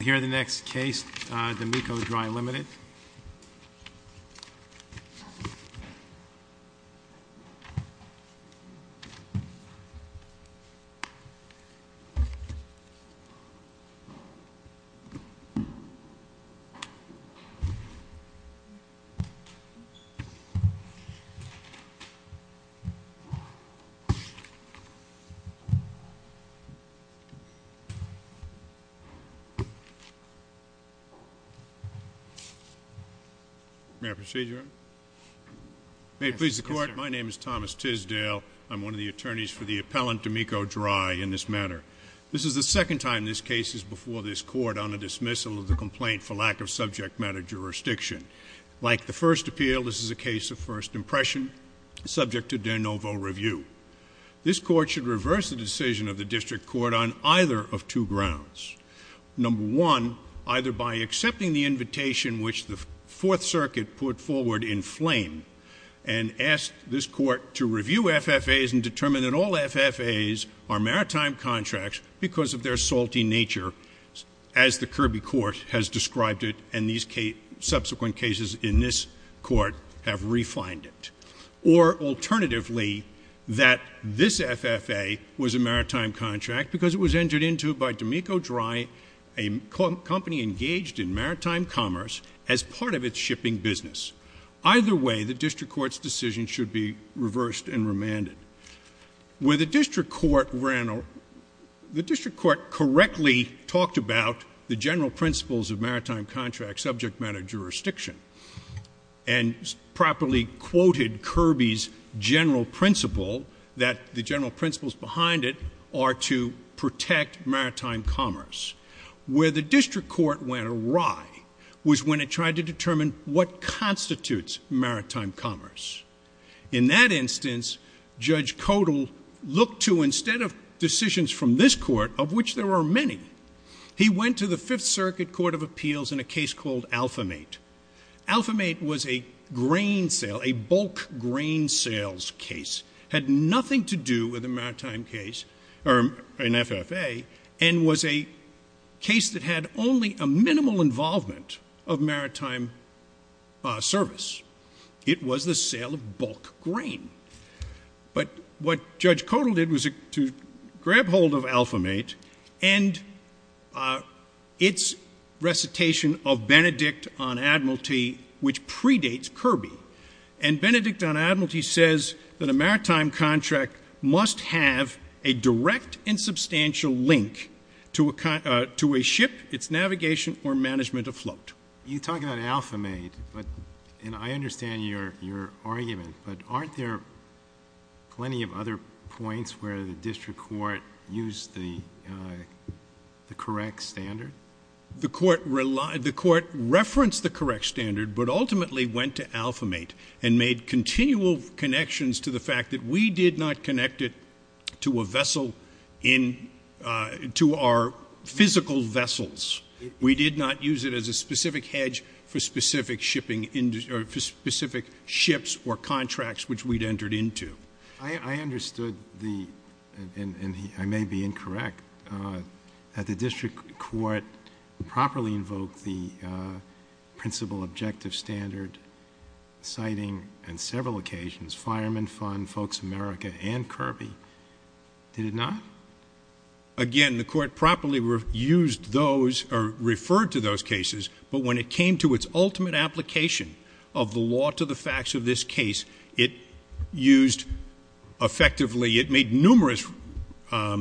Here are the next case, D'Amico Dry Limited. May I proceed, Your Honor? May it please the court, my name is Thomas Tisdale. I'm one of the attorneys for the appellant, D'Amico Dry, in this matter. This is the second time this case is before this court on a dismissal of the complaint for lack of subject matter jurisdiction. Like the first appeal, this is a case of first impression, subject to de novo review. This court should reverse the decision of the district court on either of two grounds. Number one, either by accepting the invitation which the Fourth Circuit put forward in flame and asked this court to review FFAs and determine that all FFAs are maritime contracts because of their salty nature, as the Kirby Court has described it and these subsequent cases in this court have refined it. Or alternatively, that this FFA was a maritime contract because it was entered into by D'Amico Dry, a company engaged in maritime commerce, as part of its shipping business. Either way, the district court's decision should be reversed and remanded. The district court correctly talked about the general principles of maritime contracts, subject matter jurisdiction, and properly quoted Kirby's general principle that the general principles behind it are to protect maritime commerce. Where the district court went awry was when it tried to determine what constitutes maritime commerce. In that instance, Judge Codal looked to, instead of decisions from this court, of which there are many, he went to the Fifth Circuit Court of Appeals in a case called Alphamate. Alphamate was a grain sale, a bulk grain sales case. It had nothing to do with a maritime case or an FFA and was a case that had only a minimal involvement of maritime service. It was the sale of bulk grain. But what Judge Codal did was to grab hold of Alphamate and its recitation of Benedict on Admiralty, which predates Kirby. And Benedict on Admiralty says that a maritime contract must have a direct and substantial link to a ship, its navigation, or management afloat. You talk about Alphamate, and I understand your argument, but aren't there plenty of other points where the district court used the correct standard? The court referenced the correct standard, but ultimately went to Alphamate and made continual connections to the fact that we did not connect it to our physical vessels. We did not use it as a specific hedge for specific ships or contracts which we'd entered into. I understood, and I may be incorrect, that the district court properly invoked the principal objective standard, citing on several occasions Fireman Fund, Folks America, and Kirby. Did it not? Again, the court properly referred to those cases, but when it came to its ultimate application of the law to the facts of this case, it made numerous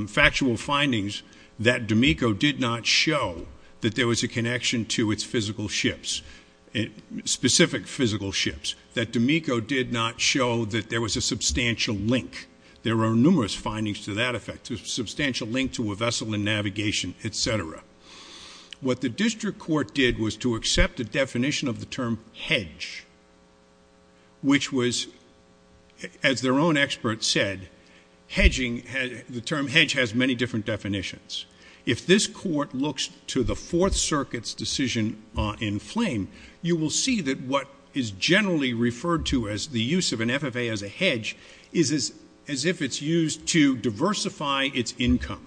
factual findings that D'Amico did not show that there was a connection to its specific physical ships, that D'Amico did not show that there was a substantial link. There were numerous findings to that effect, a substantial link to a vessel in navigation, et cetera. What the district court did was to accept the definition of the term hedge, which was, as their own experts said, the term hedge has many different definitions. If this court looks to the Fourth Circuit's decision in Flame, you will see that what is generally referred to as the use of an FFA as a hedge is as if it's used to diversify its income.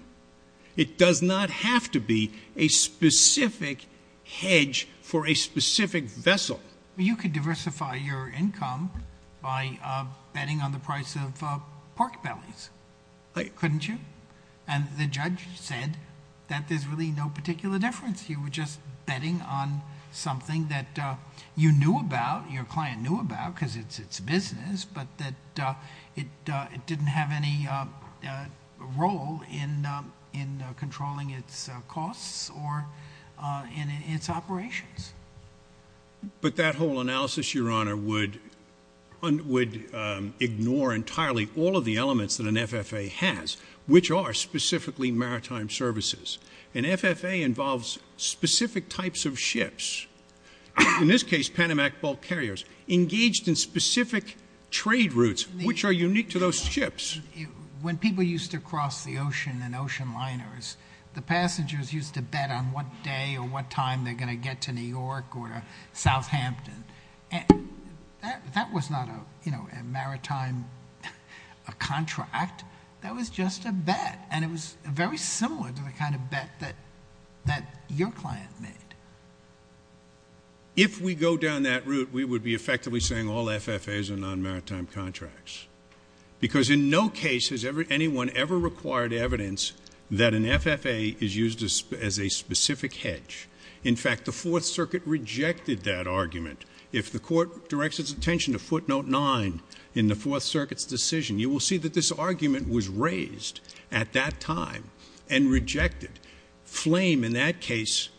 It does not have to be a specific hedge for a specific vessel. You could diversify your income by betting on the price of pork bellies, couldn't you? And the judge said that there's really no particular difference. You were just betting on something that you knew about, your client knew about because it's its business, but that it didn't have any role in controlling its costs or in its operations. But that whole analysis, Your Honor, would ignore entirely all of the elements that an FFA has, which are specifically maritime services. An FFA involves specific types of ships. In this case, Panamak bulk carriers engaged in specific trade routes, which are unique to those ships. When people used to cross the ocean in ocean liners, the passengers used to bet on what day or what time they're going to get to New York or South Hampton. That was not a maritime contract. That was just a bet, and it was very similar to the kind of bet that your client made. If we go down that route, we would be effectively saying all FFAs are non-maritime contracts because in no case has anyone ever required evidence that an FFA is used as a specific hedge. In fact, the Fourth Circuit rejected that argument. If the court directs its attention to footnote nine in the Fourth Circuit's decision, you will see that this argument was raised at that time and rejected. Flame, in that case,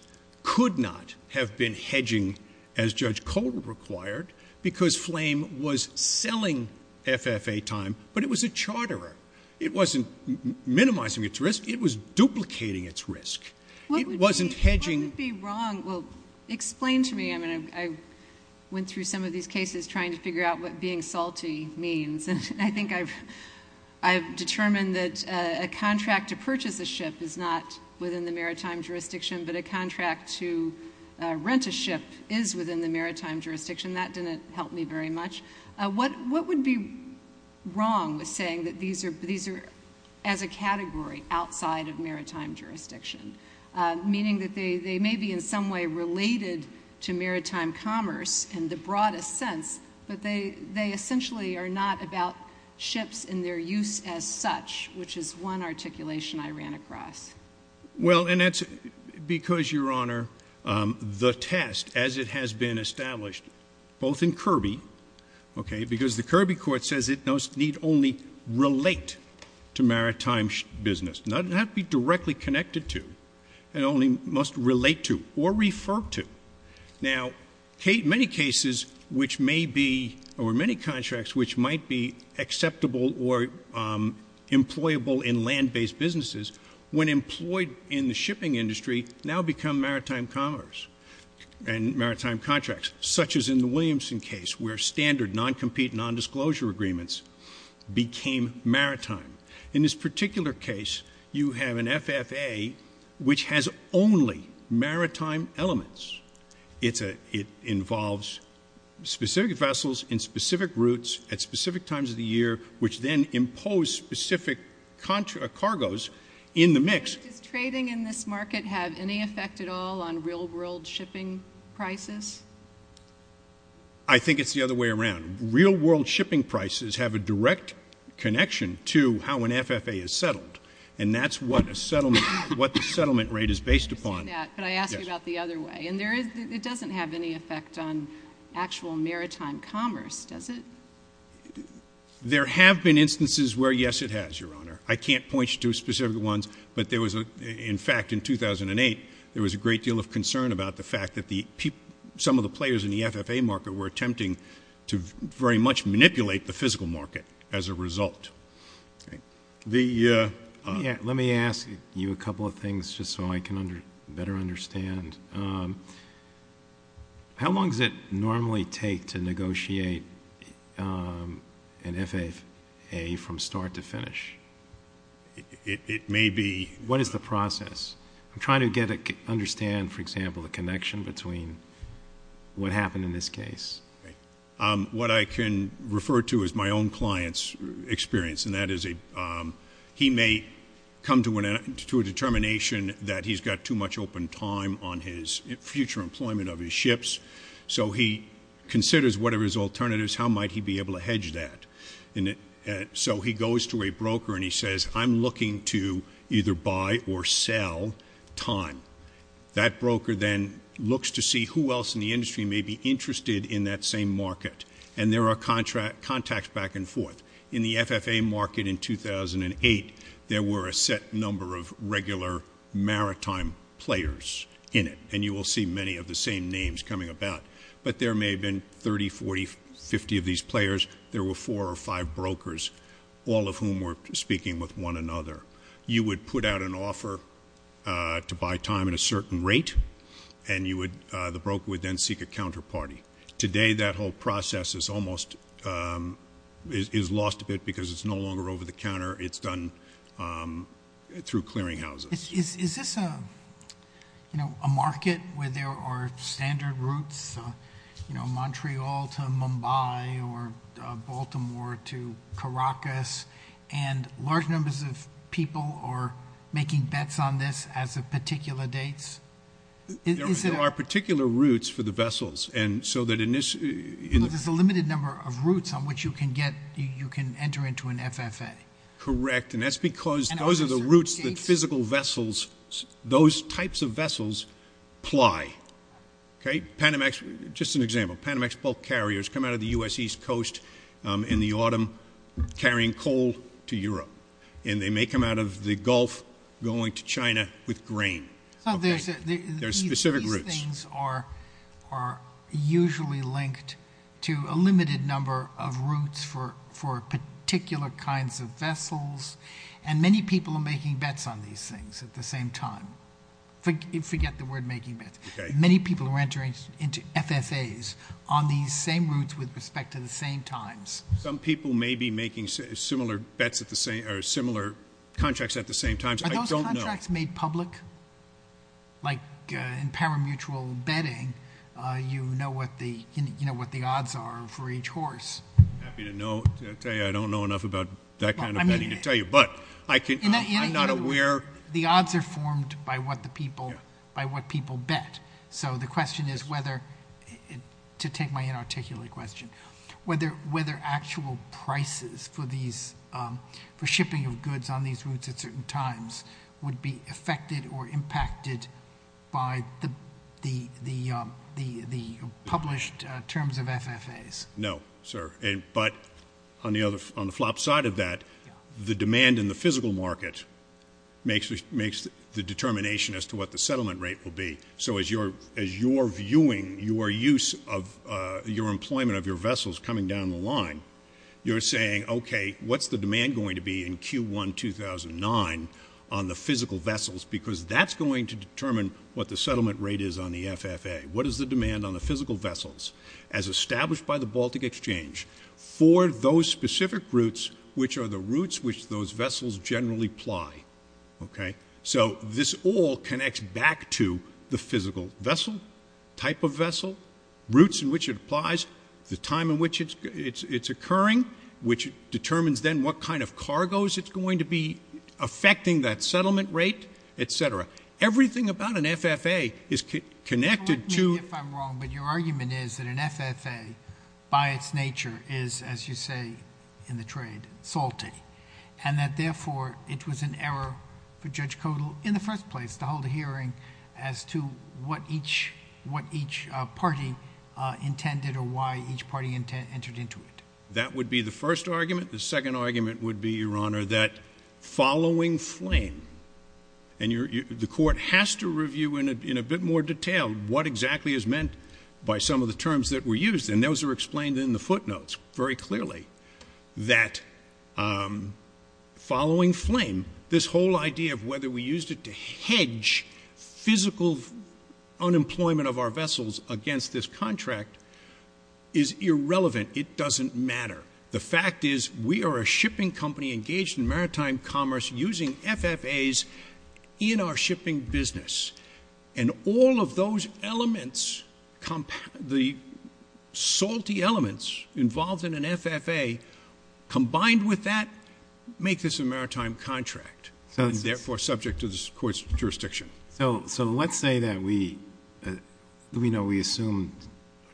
could not have been hedging as Judge Cole required because Flame was selling FFA time, but it was a charterer. It wasn't minimizing its risk. It was duplicating its risk. It wasn't hedging. Explain to me. I went through some of these cases trying to figure out what being salty means, and I think I've determined that a contract to purchase a ship is not within the maritime jurisdiction, but a contract to rent a ship is within the maritime jurisdiction. That didn't help me very much. What would be wrong with saying that these are as a category outside of maritime jurisdiction, meaning that they may be in some way related to maritime commerce in the broadest sense, but they essentially are not about ships and their use as such, which is one articulation I ran across. Well, and that's because, Your Honor, the test, as it has been established both in Kirby, because the Kirby court says it need only relate to maritime business, not be directly connected to, and only must relate to or refer to. Now, many cases which may be, or many contracts which might be acceptable or employable in land-based businesses, when employed in the shipping industry now become maritime commerce and maritime contracts, such as in the Williamson case where standard non-compete, non-disclosure agreements became maritime. In this particular case, you have an FFA which has only maritime elements. It involves specific vessels in specific routes at specific times of the year, which then impose specific cargoes in the mix. Does trading in this market have any effect at all on real-world shipping prices? I think it's the other way around. Real-world shipping prices have a direct connection to how an FFA is settled, and that's what the settlement rate is based upon. Could I ask you about the other way? It doesn't have any effect on actual maritime commerce, does it? I can't point you to specific ones, but there was, in fact, in 2008, there was a great deal of concern about the fact that some of the players in the FFA market were attempting to very much manipulate the physical market as a result. Let me ask you a couple of things just so I can better understand. How long does it normally take to negotiate an FFA from start to finish? It may be. What is the process? I'm trying to understand, for example, the connection between what happened in this case. What I can refer to is my own client's experience, and that is he may come to a determination that he's got too much open time on his future employment of his ships, so he considers whatever his alternatives, how might he be able to hedge that. So he goes to a broker and he says, I'm looking to either buy or sell time. That broker then looks to see who else in the industry may be interested in that same market, and there are contacts back and forth. In the FFA market in 2008, there were a set number of regular maritime players in it, and you will see many of the same names coming about. But there may have been 30, 40, 50 of these players. There were four or five brokers, all of whom were speaking with one another. You would put out an offer to buy time at a certain rate, and the broker would then seek a counterparty. Today that whole process is almost lost a bit because it's no longer over the counter. It's done through clearing houses. Is this a market where there are standard routes, you know, Montreal to Mumbai or Baltimore to Caracas, and large numbers of people are making bets on this as of particular dates? There are particular routes for the vessels. There's a limited number of routes on which you can enter into an FFA. Correct, and that's because those are the routes that physical vessels, those types of vessels ply. Just an example, Panamax bulk carriers come out of the U.S. east coast in the autumn carrying coal to Europe, and they make them out of the Gulf going to China with grain. There are specific routes. These things are usually linked to a limited number of routes for particular kinds of vessels, and many people are making bets on these things at the same time. Forget the word making bets. Many people are entering into FFAs on these same routes with respect to the same times. Some people may be making similar contracts at the same times. Are those contracts made public? Like in paramutual betting, you know what the odds are for each horse. I'm happy to tell you I don't know enough about that kind of betting to tell you, but I'm not aware. The odds are formed by what people bet, so the question is whether, to take my inarticulate question, whether actual prices for shipping of goods on these routes at certain times would be affected or impacted by the published terms of FFAs. No, sir. But on the flop side of that, the demand in the physical market makes the determination as to what the settlement rate will be. So as you're viewing your use of your employment of your vessels coming down the line, you're saying, okay, what's the demand going to be in Q1 2009 on the physical vessels, because that's going to determine what the settlement rate is on the FFA. What is the demand on the physical vessels as established by the Baltic Exchange for those specific routes, which are the routes which those vessels generally ply? So this all connects back to the physical vessel, type of vessel, routes in which it applies, the time in which it's occurring, which determines then what kind of cargoes it's going to be affecting that settlement rate, et cetera. Everything about an FFA is connected to- Correct me if I'm wrong, but your argument is that an FFA, by its nature, is, as you say in the trade, salty, and that, therefore, it was an error for Judge Kodal in the first place to hold a hearing as to what each party intended or why each party entered into it. That would be the first argument. The second argument would be, Your Honor, that following flame, and the court has to review in a bit more detail what exactly is meant by some of the terms that were used, and those are explained in the footnotes very clearly, that following flame, this whole idea of whether we used it to hedge physical unemployment of our vessels against this contract is irrelevant. It doesn't matter. The fact is we are a shipping company engaged in maritime commerce using FFAs in our shipping business, and all of those elements, the salty elements involved in an FFA, combined with that, make this a maritime contract, and, therefore, subject to the court's jurisdiction. So let's say that we assume,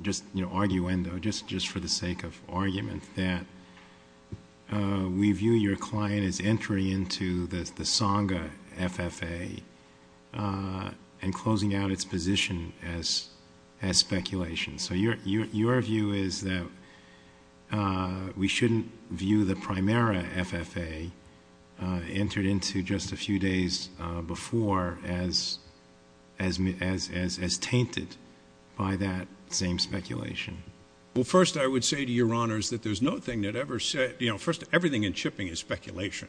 just arguendo, just for the sake of argument, that we view your client as entering into the Tsonga FFA and closing out its position as speculation. So your view is that we shouldn't view the Primera FFA, entered into just a few days before, as tainted by that same speculation. Well, first, I would say to Your Honors that there's no thing that ever said, you know, first, everything in shipping is speculation.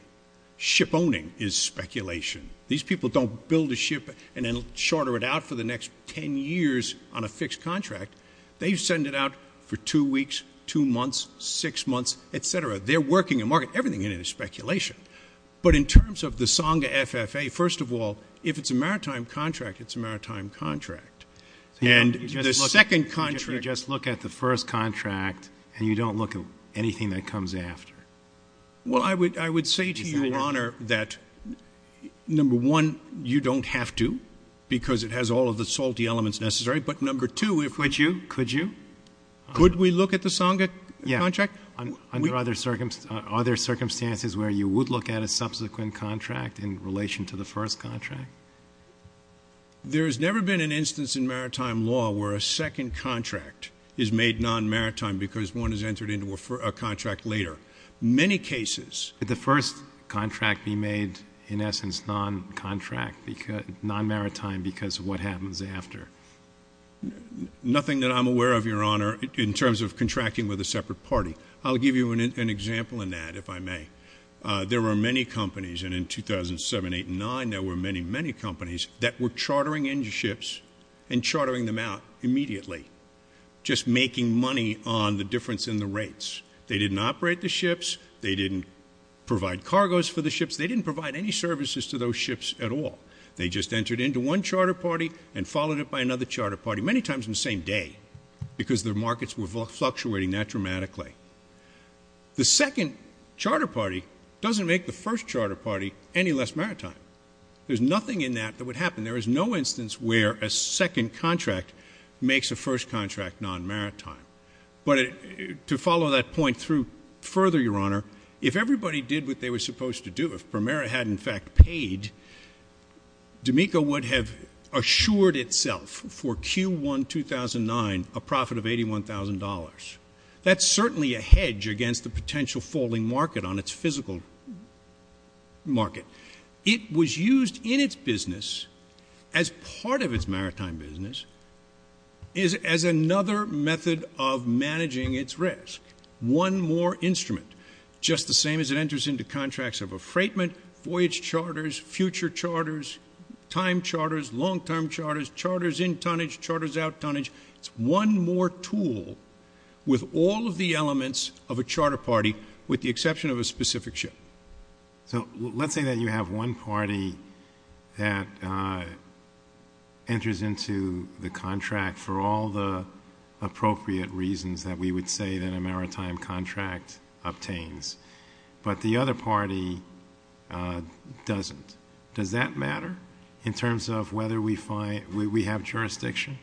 Ship owning is speculation. These people don't build a ship and then shorter it out for the next 10 years on a fixed contract. They send it out for two weeks, two months, six months, et cetera. They're working to market everything into speculation. But in terms of the Tsonga FFA, first of all, if it's a maritime contract, it's a maritime contract. And the second contract — You just look at the first contract, and you don't look at anything that comes after. Well, I would say to Your Honor that, number one, you don't have to because it has all of the salty elements necessary. But, number two, if — Could you? Could you? Could we look at the Tsonga contract? Yeah. Under other circumstances where you would look at a subsequent contract in relation to the first contract? There has never been an instance in maritime law where a second contract is made non-maritime because one has entered into a contract later. Many cases — Could the first contract be made, in essence, non-maritime because of what happens after? Nothing that I'm aware of, Your Honor, in terms of contracting with a separate party. I'll give you an example in that, if I may. There were many companies, and in 2007, 2008, and 2009, there were many, many companies that were chartering in ships and chartering them out immediately, just making money on the difference in the rates. They didn't operate the ships. They didn't provide cargoes for the ships. They didn't provide any services to those ships at all. They just entered into one charter party and followed it by another charter party, many times in the same day, because their markets were fluctuating that dramatically. The second charter party doesn't make the first charter party any less maritime. There's nothing in that that would happen. There is no instance where a second contract makes a first contract non-maritime. But to follow that point through further, Your Honor, if everybody did what they were supposed to do, if Primera had, in fact, paid, D'Amico would have assured itself for Q1 2009 a profit of $81,000. That's certainly a hedge against the potential falling market on its physical market. It was used in its business as part of its maritime business as another method of managing its risk. One more instrument, just the same as it enters into contracts of a freightment, voyage charters, future charters, time charters, long-term charters, charters in tonnage, charters out tonnage. It's one more tool with all of the elements of a charter party with the exception of a specific ship. So let's say that you have one party that enters into the contract for all the appropriate reasons that we would say that a maritime contract obtains, but the other party doesn't. Does that matter in terms of whether we have jurisdiction?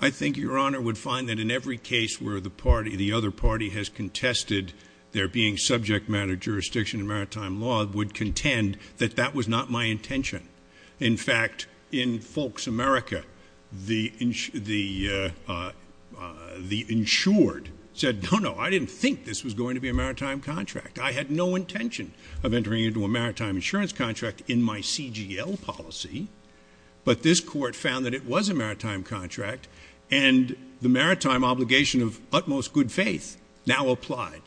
I think Your Honor would find that in every case where the party, the other party, has contested there being subject matter jurisdiction in maritime law would contend that that was not my intention. In fact, in Folks America, the insured said, no, no, I didn't think this was going to be a maritime contract. I had no intention of entering into a maritime insurance contract in my CGL policy, but this court found that it was a maritime contract, and the maritime obligation of utmost good faith now applied.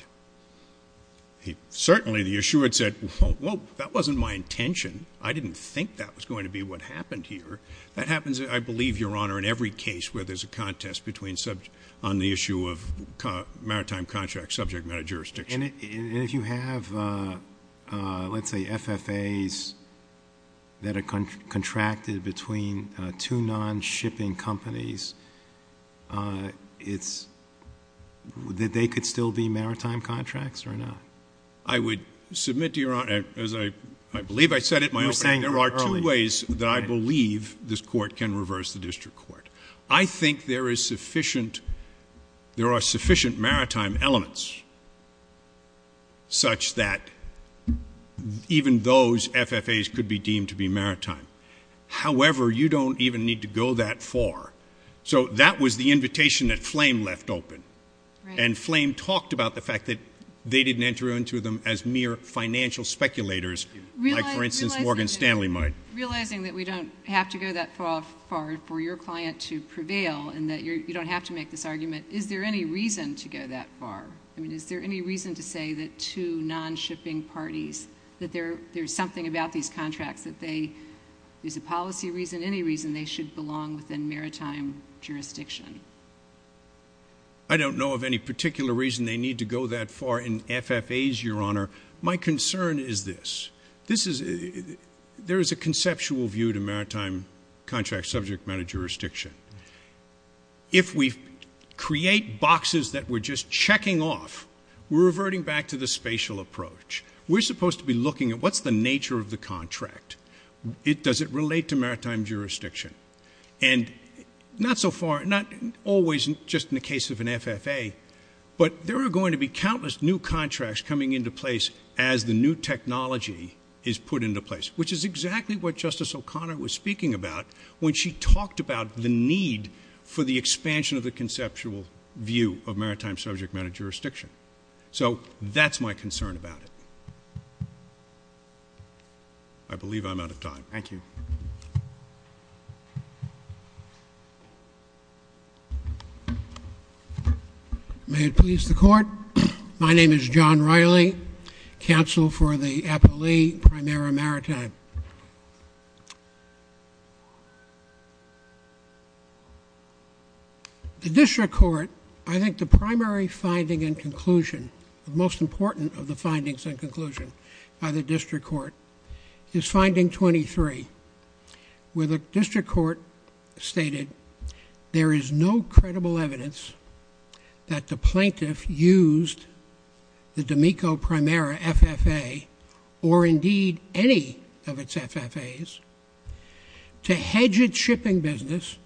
Certainly, the insured said, well, that wasn't my intention. I didn't think that was going to be what happened here. That happens, I believe, Your Honor, in every case where there's a contest on the issue of maritime contract subject matter jurisdiction. And if you have, let's say, FFAs that are contracted between two non-shipping companies, that they could still be maritime contracts or not? I would submit to Your Honor, as I believe I said at my opening, there are two ways that I believe this court can reverse the district court. I think there are sufficient maritime elements such that even those FFAs could be deemed to be maritime. However, you don't even need to go that far. So that was the invitation that Flame left open, and Flame talked about the fact that they didn't enter into them as mere financial speculators, like, for instance, Morgan Stanley might. Realizing that we don't have to go that far for your client to prevail and that you don't have to make this argument, is there any reason to go that far? I mean, is there any reason to say that two non-shipping parties, that there's something about these contracts, that there's a policy reason, any reason they should belong within maritime jurisdiction? I don't know of any particular reason they need to go that far in FFAs, Your Honor. My concern is this. There is a conceptual view to maritime contract subject matter jurisdiction. If we create boxes that we're just checking off, we're reverting back to the spatial approach. We're supposed to be looking at what's the nature of the contract. Does it relate to maritime jurisdiction? And not so far, not always, just in the case of an FFA, but there are going to be countless new contracts coming into place as the new technology is put into place, which is exactly what Justice O'Connor was speaking about when she talked about the need for the expansion of the conceptual view of maritime subject matter jurisdiction. So that's my concern about it. I believe I'm out of time. Thank you. May it please the Court. My name is John Riley, counsel for the Appalachian Primera Maritime. The district court, I think the primary finding and conclusion, the most important of the findings and conclusion by the district court is finding 23, where the district court stated there is no credible evidence that the plaintiff used the D'Amico Primera FFA or indeed any of its FFAs to hedge its shipping business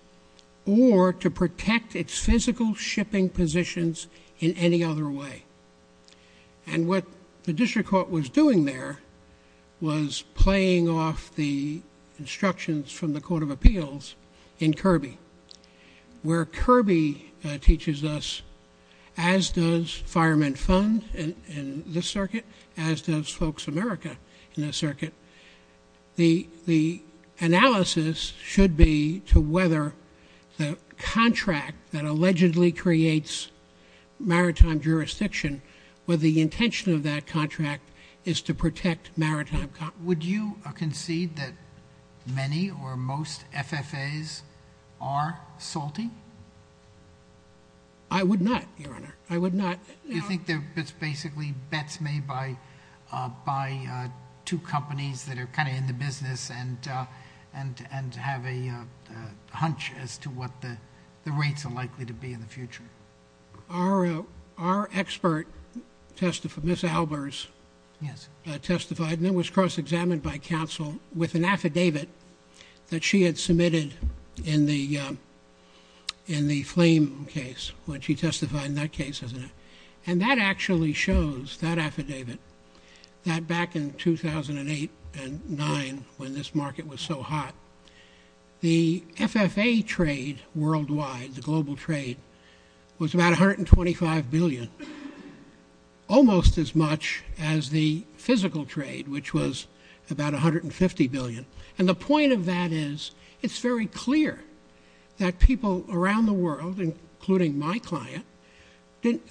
or to protect its physical shipping positions in any other way. And what the district court was doing there was playing off the instructions from the Court of Appeals in Kirby, where Kirby teaches us, as does Firemen Fund in this circuit, as does Folks America in this circuit, the analysis should be to whether the contract that allegedly creates maritime jurisdiction, whether the intention of that contract is to protect maritime. Would you concede that many or most FFAs are salty? I would not, Your Honor. I would not. You think it's basically bets made by two companies that are kind of in the business and have a hunch as to what the rates are likely to be in the future? Our expert, Ms. Albers, testified and it was cross-examined by counsel with an affidavit that she had submitted in the Flame case when she testified in that case. And that actually shows, that affidavit, that back in 2008 and 2009 when this market was so hot, the FFA trade worldwide, the global trade, was about $125 billion, almost as much as the physical trade, which was about $150 billion. And the point of that is it's very clear that people around the world, including my client,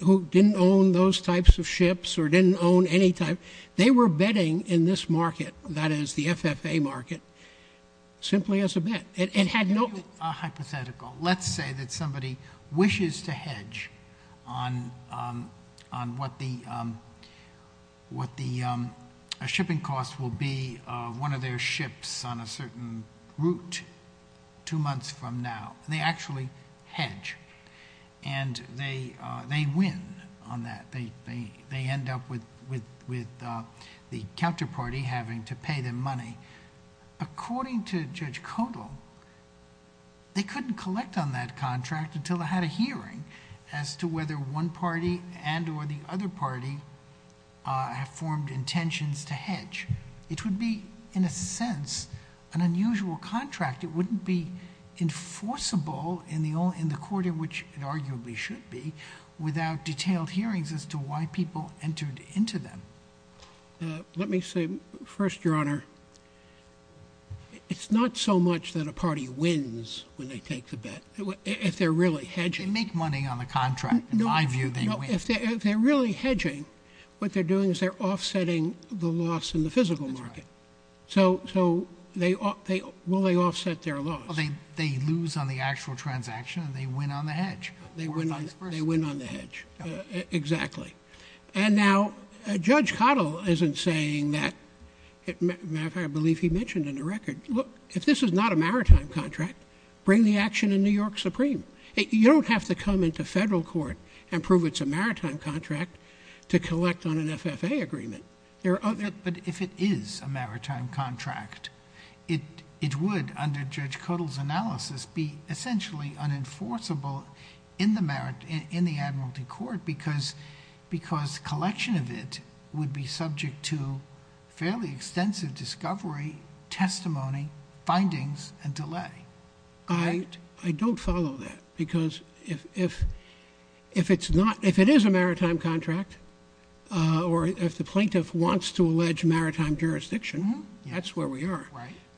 who didn't own those types of ships or didn't own any type, they were betting in this market, that is the FFA market, simply as a bet. It had no— on a certain route two months from now. They actually hedge and they win on that. They end up with the counterparty having to pay them money. According to Judge Kodal, they couldn't collect on that contract until they had a hearing as to whether one party and or the other party have formed intentions to hedge. It would be, in a sense, an unusual contract. It wouldn't be enforceable in the court in which it arguably should be without detailed hearings as to why people entered into them. Let me say first, Your Honor, it's not so much that a party wins when they take the bet. If they're really hedging— They make money on the contract. In my view, they win. If they're really hedging, what they're doing is they're offsetting the loss in the physical market. So will they offset their loss? They lose on the actual transaction and they win on the hedge. They win on the hedge. Exactly. And now Judge Kodal isn't saying that—I believe he mentioned in the record, look, if this is not a maritime contract, bring the action in New York Supreme. You don't have to come into federal court and prove it's a maritime contract to collect on an FFA agreement. But if it is a maritime contract, it would, under Judge Kodal's analysis, be essentially unenforceable in the admiralty court because collection of it would be subject to fairly extensive discovery, testimony, findings, and delay. I don't follow that because if it is a maritime contract or if the plaintiff wants to allege maritime jurisdiction, that's where we are.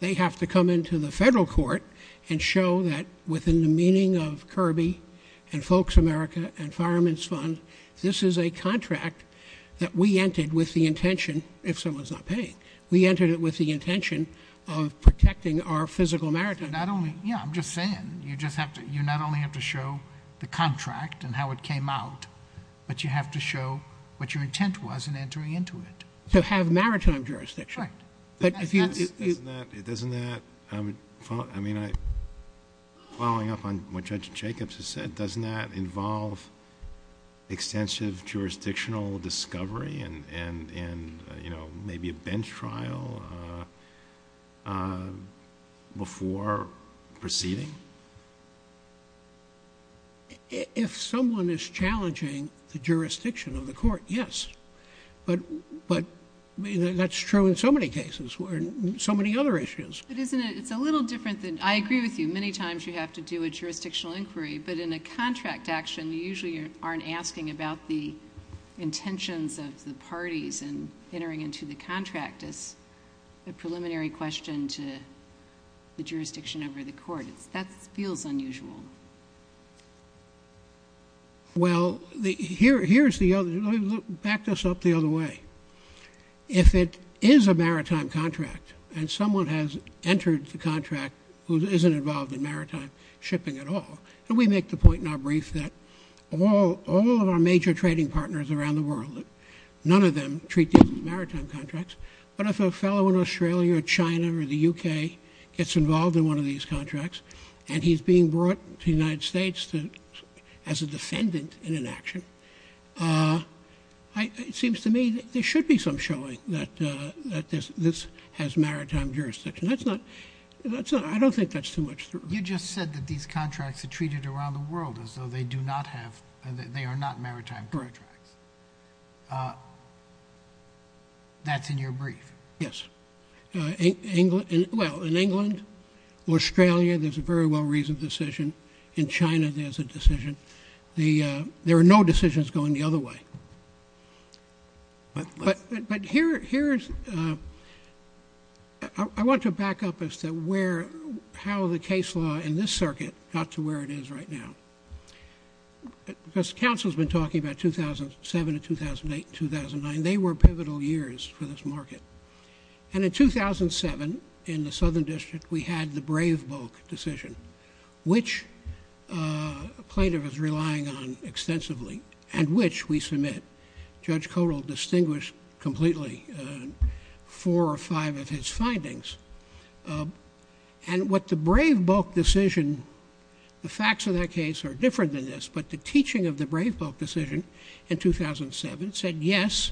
They have to come into the federal court and show that within the meaning of Kirby and Folks America and Fireman's Fund, this is a contract that we entered with the intention, if someone's not paying, we entered it with the intention of protecting our physical maritime— Yeah, I'm just saying, you not only have to show the contract and how it came out, but you have to show what your intent was in entering into it. To have maritime jurisdiction. Right. But if you— Doesn't that, following up on what Judge Jacobs has said, doesn't that involve extensive jurisdictional discovery and maybe a bench trial before proceeding? If someone is challenging the jurisdiction of the court, yes. But that's true in so many cases, so many other issues. But isn't it—it's a little different than—I agree with you. Many times you have to do a jurisdictional inquiry, but in a contract action, you usually aren't asking about the intentions of the parties in entering into the contract. It's a preliminary question to the jurisdiction over the court. That feels unusual. Well, here's the other—back this up the other way. If it is a maritime contract and someone has entered the contract who isn't involved in maritime shipping at all, and we make the point in our brief that all of our major trading partners around the world, none of them treat these as maritime contracts, but if a fellow in Australia or China or the U.K. gets involved in one of these contracts and he's being brought to the United States as a defendant in an action, it seems to me there should be some showing that this has maritime jurisdiction. That's not—I don't think that's too much. You just said that these contracts are treated around the world as though they do not have— they are not maritime contracts. That's in your brief. Yes. Well, in England, Australia, there's a very well-reasoned decision. In China, there's a decision. There are no decisions going the other way. But here's—I want to back up as to where—how the case law in this circuit got to where it is right now. Because counsel's been talking about 2007 and 2008 and 2009. They were pivotal years for this market. And in 2007, in the Southern District, we had the Brave Bulk decision, which plaintiff is relying on extensively and which we submit. Judge Kodal distinguished completely four or five of his findings. And what the Brave Bulk decision—the facts of that case are different than this, but the teaching of the Brave Bulk decision in 2007 said, yes,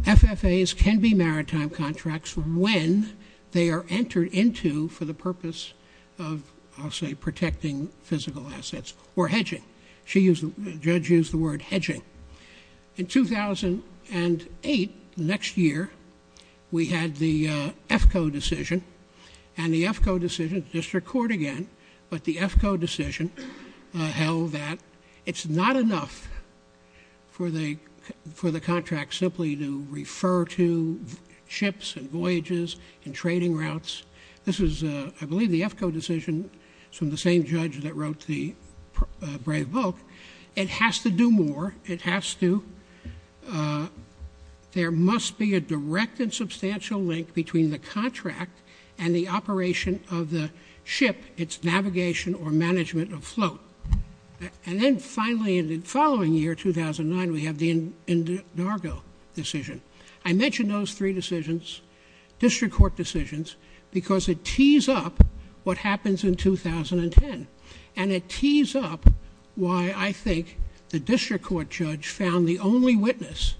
FFAs can be maritime contracts when they are entered into for the purpose of, I'll say, protecting physical assets or hedging. She used—the judge used the word hedging. In 2008, the next year, we had the EFCO decision. And the EFCO decision—just to record again, but the EFCO decision held that it's not enough for the contract simply to refer to ships and voyages and trading routes. This is, I believe, the EFCO decision from the same judge that wrote the Brave Bulk. It has to do more. It has to—there must be a direct and substantial link between the contract and the operation of the ship. It's navigation or management of float. And then, finally, in the following year, 2009, we have the Indargo decision. I mention those three decisions, district court decisions, because it tees up what happens in 2010. And it tees up why I think the district court judge found the only witness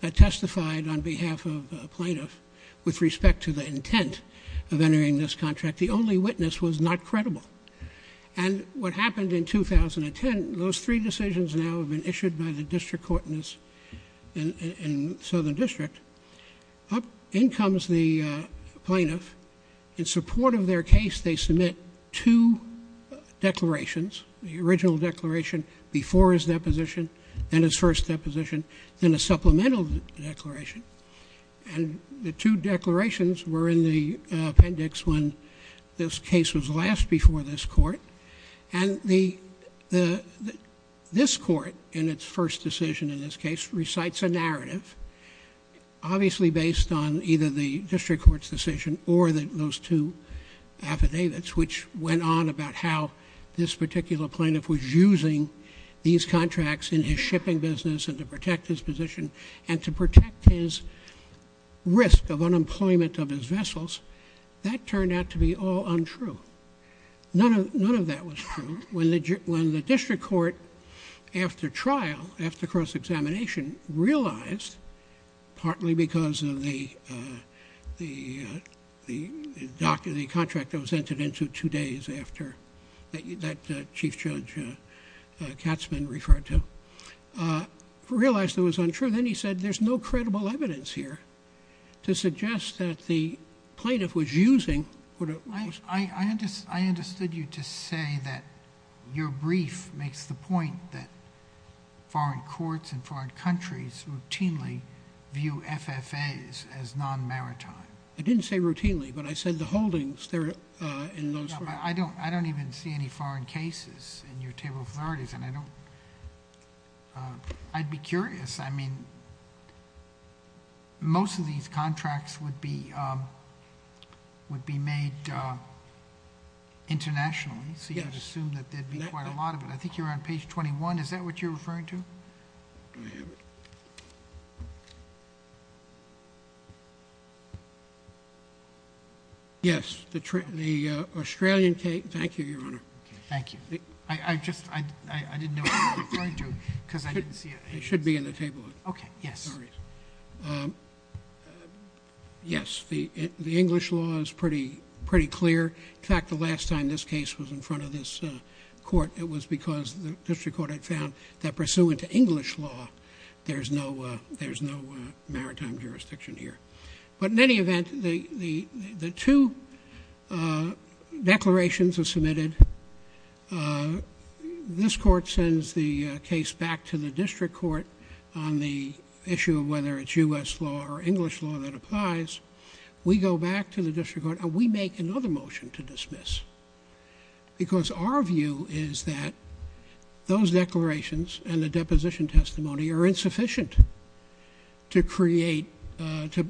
that testified on behalf of a plaintiff with respect to the intent of entering this contract. The only witness was not credible. And what happened in 2010, those three decisions now have been issued by the district court in Southern District. In comes the plaintiff. In support of their case, they submit two declarations, the original declaration before his deposition and his first deposition, then a supplemental declaration. And the two declarations were in the appendix when this case was last before this court. And this court, in its first decision in this case, recites a narrative, obviously based on either the district court's decision or those two affidavits, which went on about how this particular plaintiff was using these contracts in his shipping business and to protect his position and to protect his risk of unemployment of his vessels. That turned out to be all untrue. None of that was true. When the district court, after trial, after cross-examination, realized, partly because of the contract that was entered into two days after that Chief Judge Katzman referred to, realized it was untrue, then he said, there's no credible evidence here to suggest that the plaintiff was using what it was. I understood you to say that your brief makes the point that foreign courts and foreign countries routinely view FFAs as non-maritime. I didn't say routinely, but I said the holdings there in those... I don't even see any foreign cases in your table of authorities, and I don't... I'd be curious. I mean, most of these contracts would be made internationally, so you'd assume that there'd be quite a lot of it. I think you're on page 21. Is that what you're referring to? I have it. Yes, the Australian case... Thank you, Your Honor. Thank you. I just... I didn't know what you were referring to because I didn't see it. It should be in the table of authorities. Okay, yes. Yes, the English law is pretty clear. In fact, the last time this case was in front of this court, it was because the district court had found that pursuant to English law, there's no maritime jurisdiction here. But in any event, the two declarations are submitted. This court sends the case back to the district court on the issue of whether it's U.S. law or English law that applies. We go back to the district court, and we make another motion to dismiss because our view is that those declarations and the deposition testimony are insufficient to create... to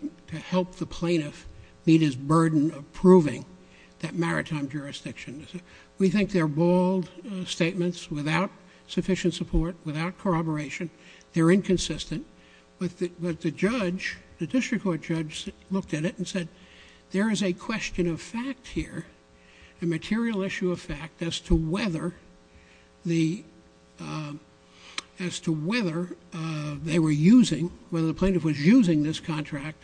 help the plaintiff meet his burden of proving that maritime jurisdiction. We think they're bold statements without sufficient support, without corroboration. They're inconsistent. But the judge, the district court judge, looked at it and said, there is a question of fact here, a material issue of fact, as to whether they were using... whether the plaintiff was using this contract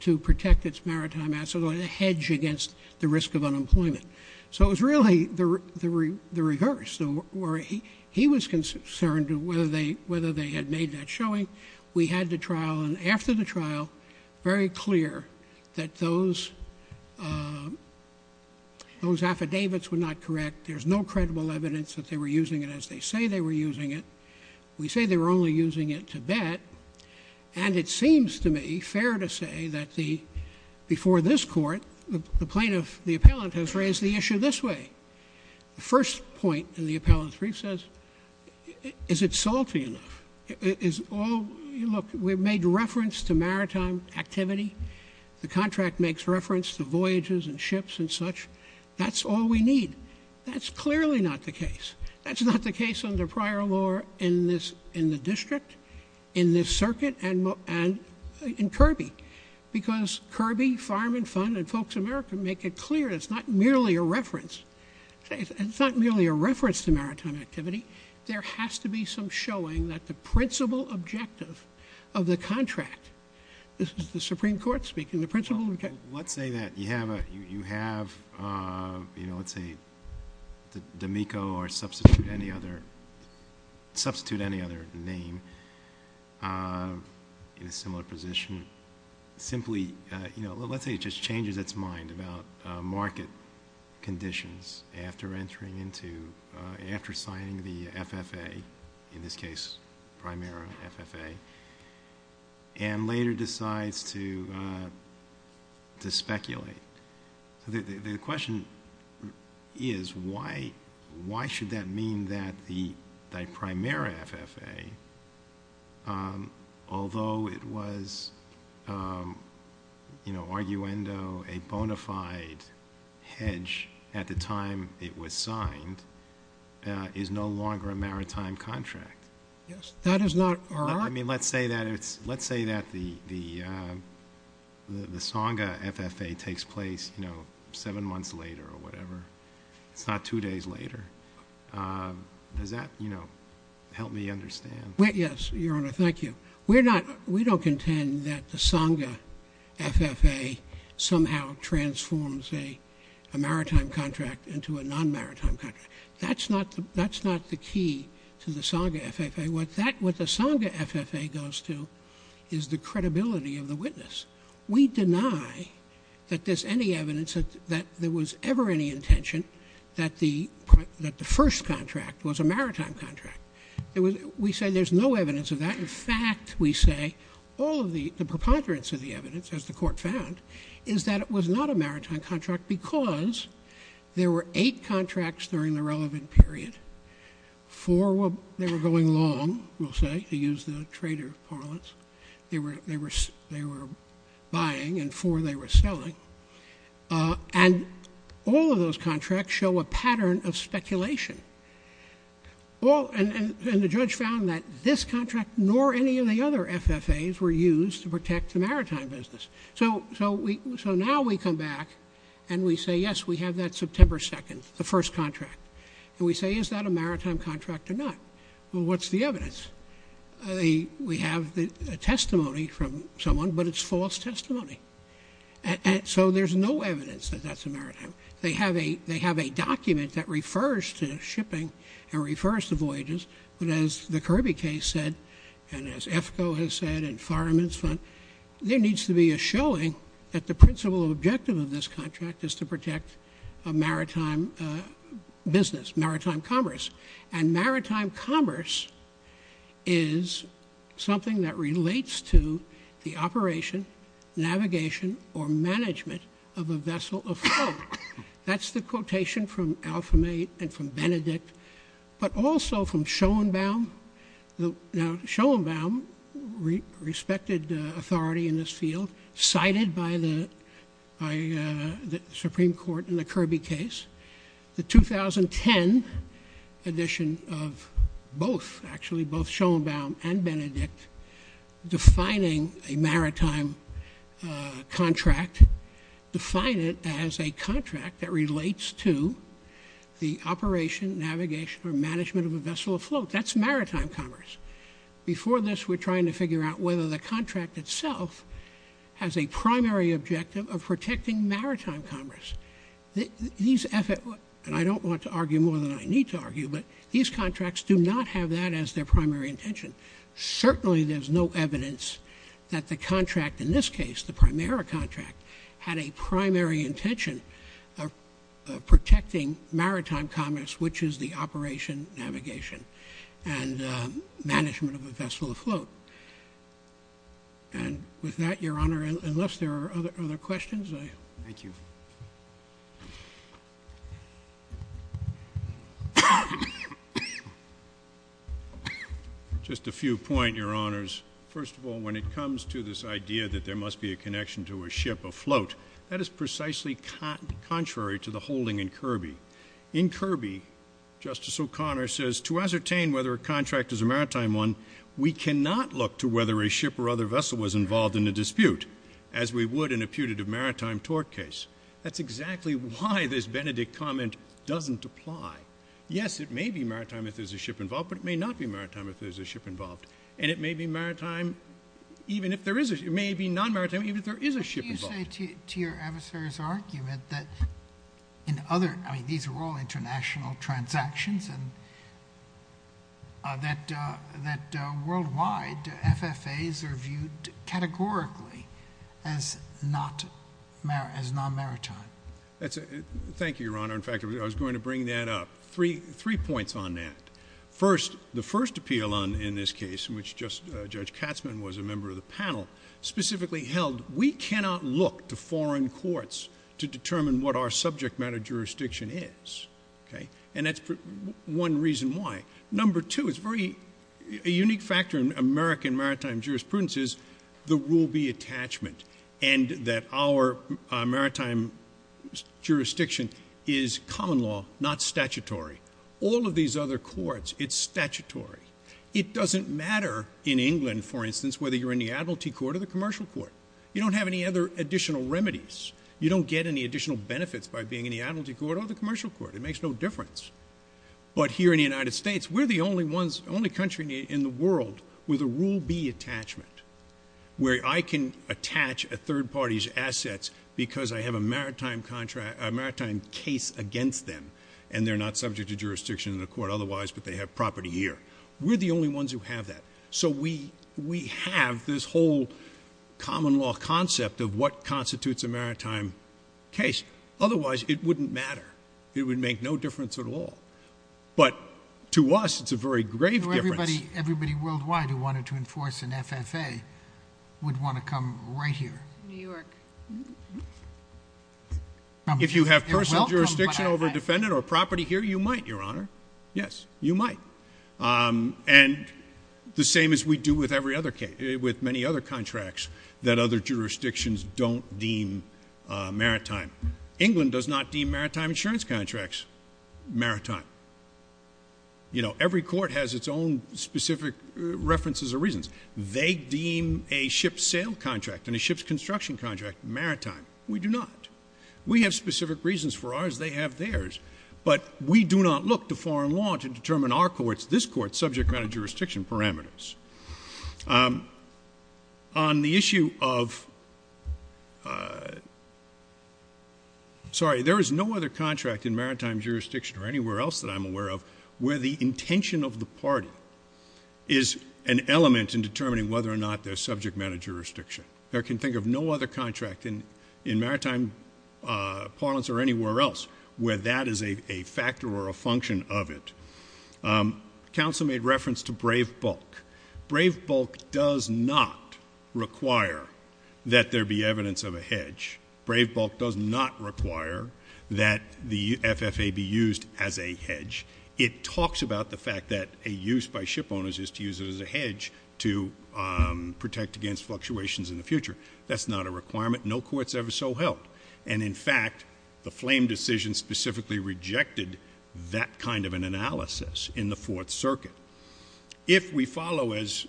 to protect its maritime assets or to hedge against the risk of unemployment. So it was really the reverse. He was concerned whether they had made that showing. We had the trial, and after the trial, very clear that those affidavits were not correct. There's no credible evidence that they were using it as they say they were using it. We say they were only using it to bet. And it seems to me fair to say that before this court, the plaintiff, the appellant, has raised the issue this way. The first point in the appellant's brief says, is it salty enough? Is all... look, we've made reference to maritime activity. The contract makes reference to voyages and ships and such. That's all we need. That's clearly not the case. That's not the case under prior law in the district, in this circuit, and in Kirby. Because Kirby, Fireman Fund, and Folks America make it clear it's not merely a reference. It's not merely a reference to maritime activity. There has to be some showing that the principal objective of the contract... Well, let's say that you have, you know, let's say D'Amico or substitute any other name in a similar position. Simply, you know, let's say it just changes its mind about market conditions after entering into... The question is, why should that mean that the Primera FFA, although it was, you know, arguendo, a bona fide hedge at the time it was signed, is no longer a maritime contract? Yes. That is not our... you know, seven months later or whatever. It's not two days later. Does that, you know, help me understand? Yes, Your Honor. Thank you. We don't contend that the Sangha FFA somehow transforms a maritime contract into a non-maritime contract. That's not the key to the Sangha FFA. What the Sangha FFA goes to is the credibility of the witness. We deny that there's any evidence that there was ever any intention that the first contract was a maritime contract. We say there's no evidence of that. In fact, we say all of the preponderance of the evidence, as the Court found, is that it was not a maritime contract because there were eight contracts during the relevant period. Four were... they were going long, we'll say, to use the trader parlance. They were buying and four they were selling. And all of those contracts show a pattern of speculation. And the judge found that this contract nor any of the other FFAs were used to protect the maritime business. So now we come back and we say, yes, we have that September 2nd, the first contract. And we say, is that a maritime contract or not? Well, what's the evidence? We have the testimony from someone, but it's false testimony. And so there's no evidence that that's a maritime. They have a document that refers to shipping and refers to voyages. But as the Kirby case said and as EFCO has said and Fireman's Fund, there needs to be a showing that the principal objective of this contract is to protect a maritime business, maritime commerce. And maritime commerce is something that relates to the operation, navigation, or management of a vessel of flow. That's the quotation from Alfame and from Benedict, but also from Schoenbaum. Now, Schoenbaum, respected authority in this field, cited by the Supreme Court in the Kirby case. The 2010 edition of both, actually both Schoenbaum and Benedict, defining a maritime contract, define it as a contract that relates to the operation, navigation, or management of a vessel of flow. That's maritime commerce. Before this, we're trying to figure out whether the contract itself has a primary objective of protecting maritime commerce. These efforts, and I don't want to argue more than I need to argue, but these contracts do not have that as their primary intention. Certainly, there's no evidence that the contract in this case, the primary contract, had a primary intention of protecting maritime commerce, which is the operation, navigation, and management of a vessel of flow. And with that, Your Honor, unless there are other questions. Thank you. Just a few points, Your Honors. First of all, when it comes to this idea that there must be a connection to a ship of float, that is precisely contrary to the holding in Kirby. In Kirby, Justice O'Connor says, to ascertain whether a contract is a maritime one, we cannot look to whether a ship or other vessel was involved in a dispute, as we would in a putative maritime tort case. That's exactly why this Benedict comment doesn't apply. Yes, it may be maritime if there's a ship involved, but it may not be maritime if there's a ship involved. And it may be maritime even if there is a ship. It may be non-maritime even if there is a ship involved. Could you say to your adversary's argument that in other, I mean, these are all international transactions, and that worldwide, FFAs are viewed categorically as non-maritime? Thank you, Your Honor. In fact, I was going to bring that up. Three points on that. First, the first appeal in this case, in which Judge Katzmann was a member of the panel, specifically held we cannot look to foreign courts to determine what our subject matter jurisdiction is. And that's one reason why. Number two, a unique factor in American maritime jurisprudence is the Rule B attachment, and that our maritime jurisdiction is common law, not statutory. All of these other courts, it's statutory. It doesn't matter in England, for instance, whether you're in the admiralty court or the commercial court. You don't have any other additional remedies. You don't get any additional benefits by being in the admiralty court or the commercial court. It makes no difference. But here in the United States, we're the only country in the world with a Rule B attachment, where I can attach a third party's assets because I have a maritime case against them, and they're not subject to jurisdiction in the court otherwise, but they have property here. We're the only ones who have that. So we have this whole common law concept of what constitutes a maritime case. Otherwise, it wouldn't matter. It would make no difference at all. But to us, it's a very grave difference. Everybody worldwide who wanted to enforce an FFA would want to come right here. New York. If you have personal jurisdiction over a defendant or property here, you might, Your Honor. Yes, you might. And the same as we do with many other contracts that other jurisdictions don't deem maritime. England does not deem maritime insurance contracts maritime. You know, every court has its own specific references or reasons. They deem a ship's sail contract and a ship's construction contract maritime. We do not. We have specific reasons for ours. They have theirs. But we do not look to foreign law to determine our court's, this court's, subject matter jurisdiction parameters. On the issue of ‑‑ sorry, there is no other contract in maritime jurisdiction or anywhere else that I'm aware of where the intention of the party is an element in determining whether or not there's subject matter jurisdiction. I can think of no other contract in maritime parlance or anywhere else where that is a factor or a function of it. Counsel made reference to brave bulk. Brave bulk does not require that there be evidence of a hedge. Brave bulk does not require that the FFA be used as a hedge. It talks about the fact that a use by ship owners is to use it as a hedge to protect against fluctuations in the future. That's not a requirement. No court's ever so held. And, in fact, the flame decision specifically rejected that kind of an analysis in the Fourth Circuit. If we follow, as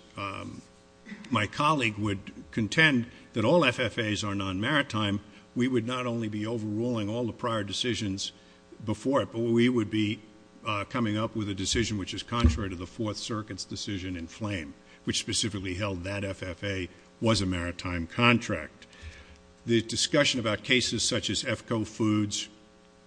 my colleague would contend, that all FFAs are non‑maritime, we would not only be overruling all the prior decisions before it, but we would be coming up with a decision which is contrary to the Fourth Circuit's decision in flame, which specifically held that FFA was a maritime contract. The discussion about cases such as EFCO foods,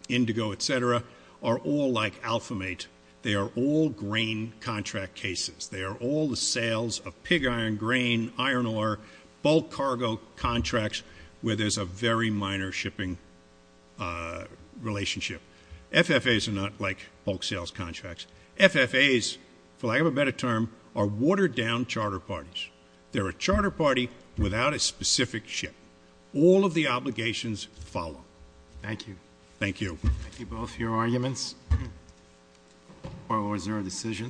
indigo, et cetera, are all like alpha mate. They are all grain contract cases. They are all the sales of pig iron, grain, iron ore, bulk cargo contracts where there's a very minor shipping relationship. FFAs are not like bulk sales contracts. FFAs, for lack of a better term, are watered down charter parties. They're a charter party without a specific ship. All of the obligations follow. Thank you. Thank you. Thank you both for your arguments. Are there any other decisions?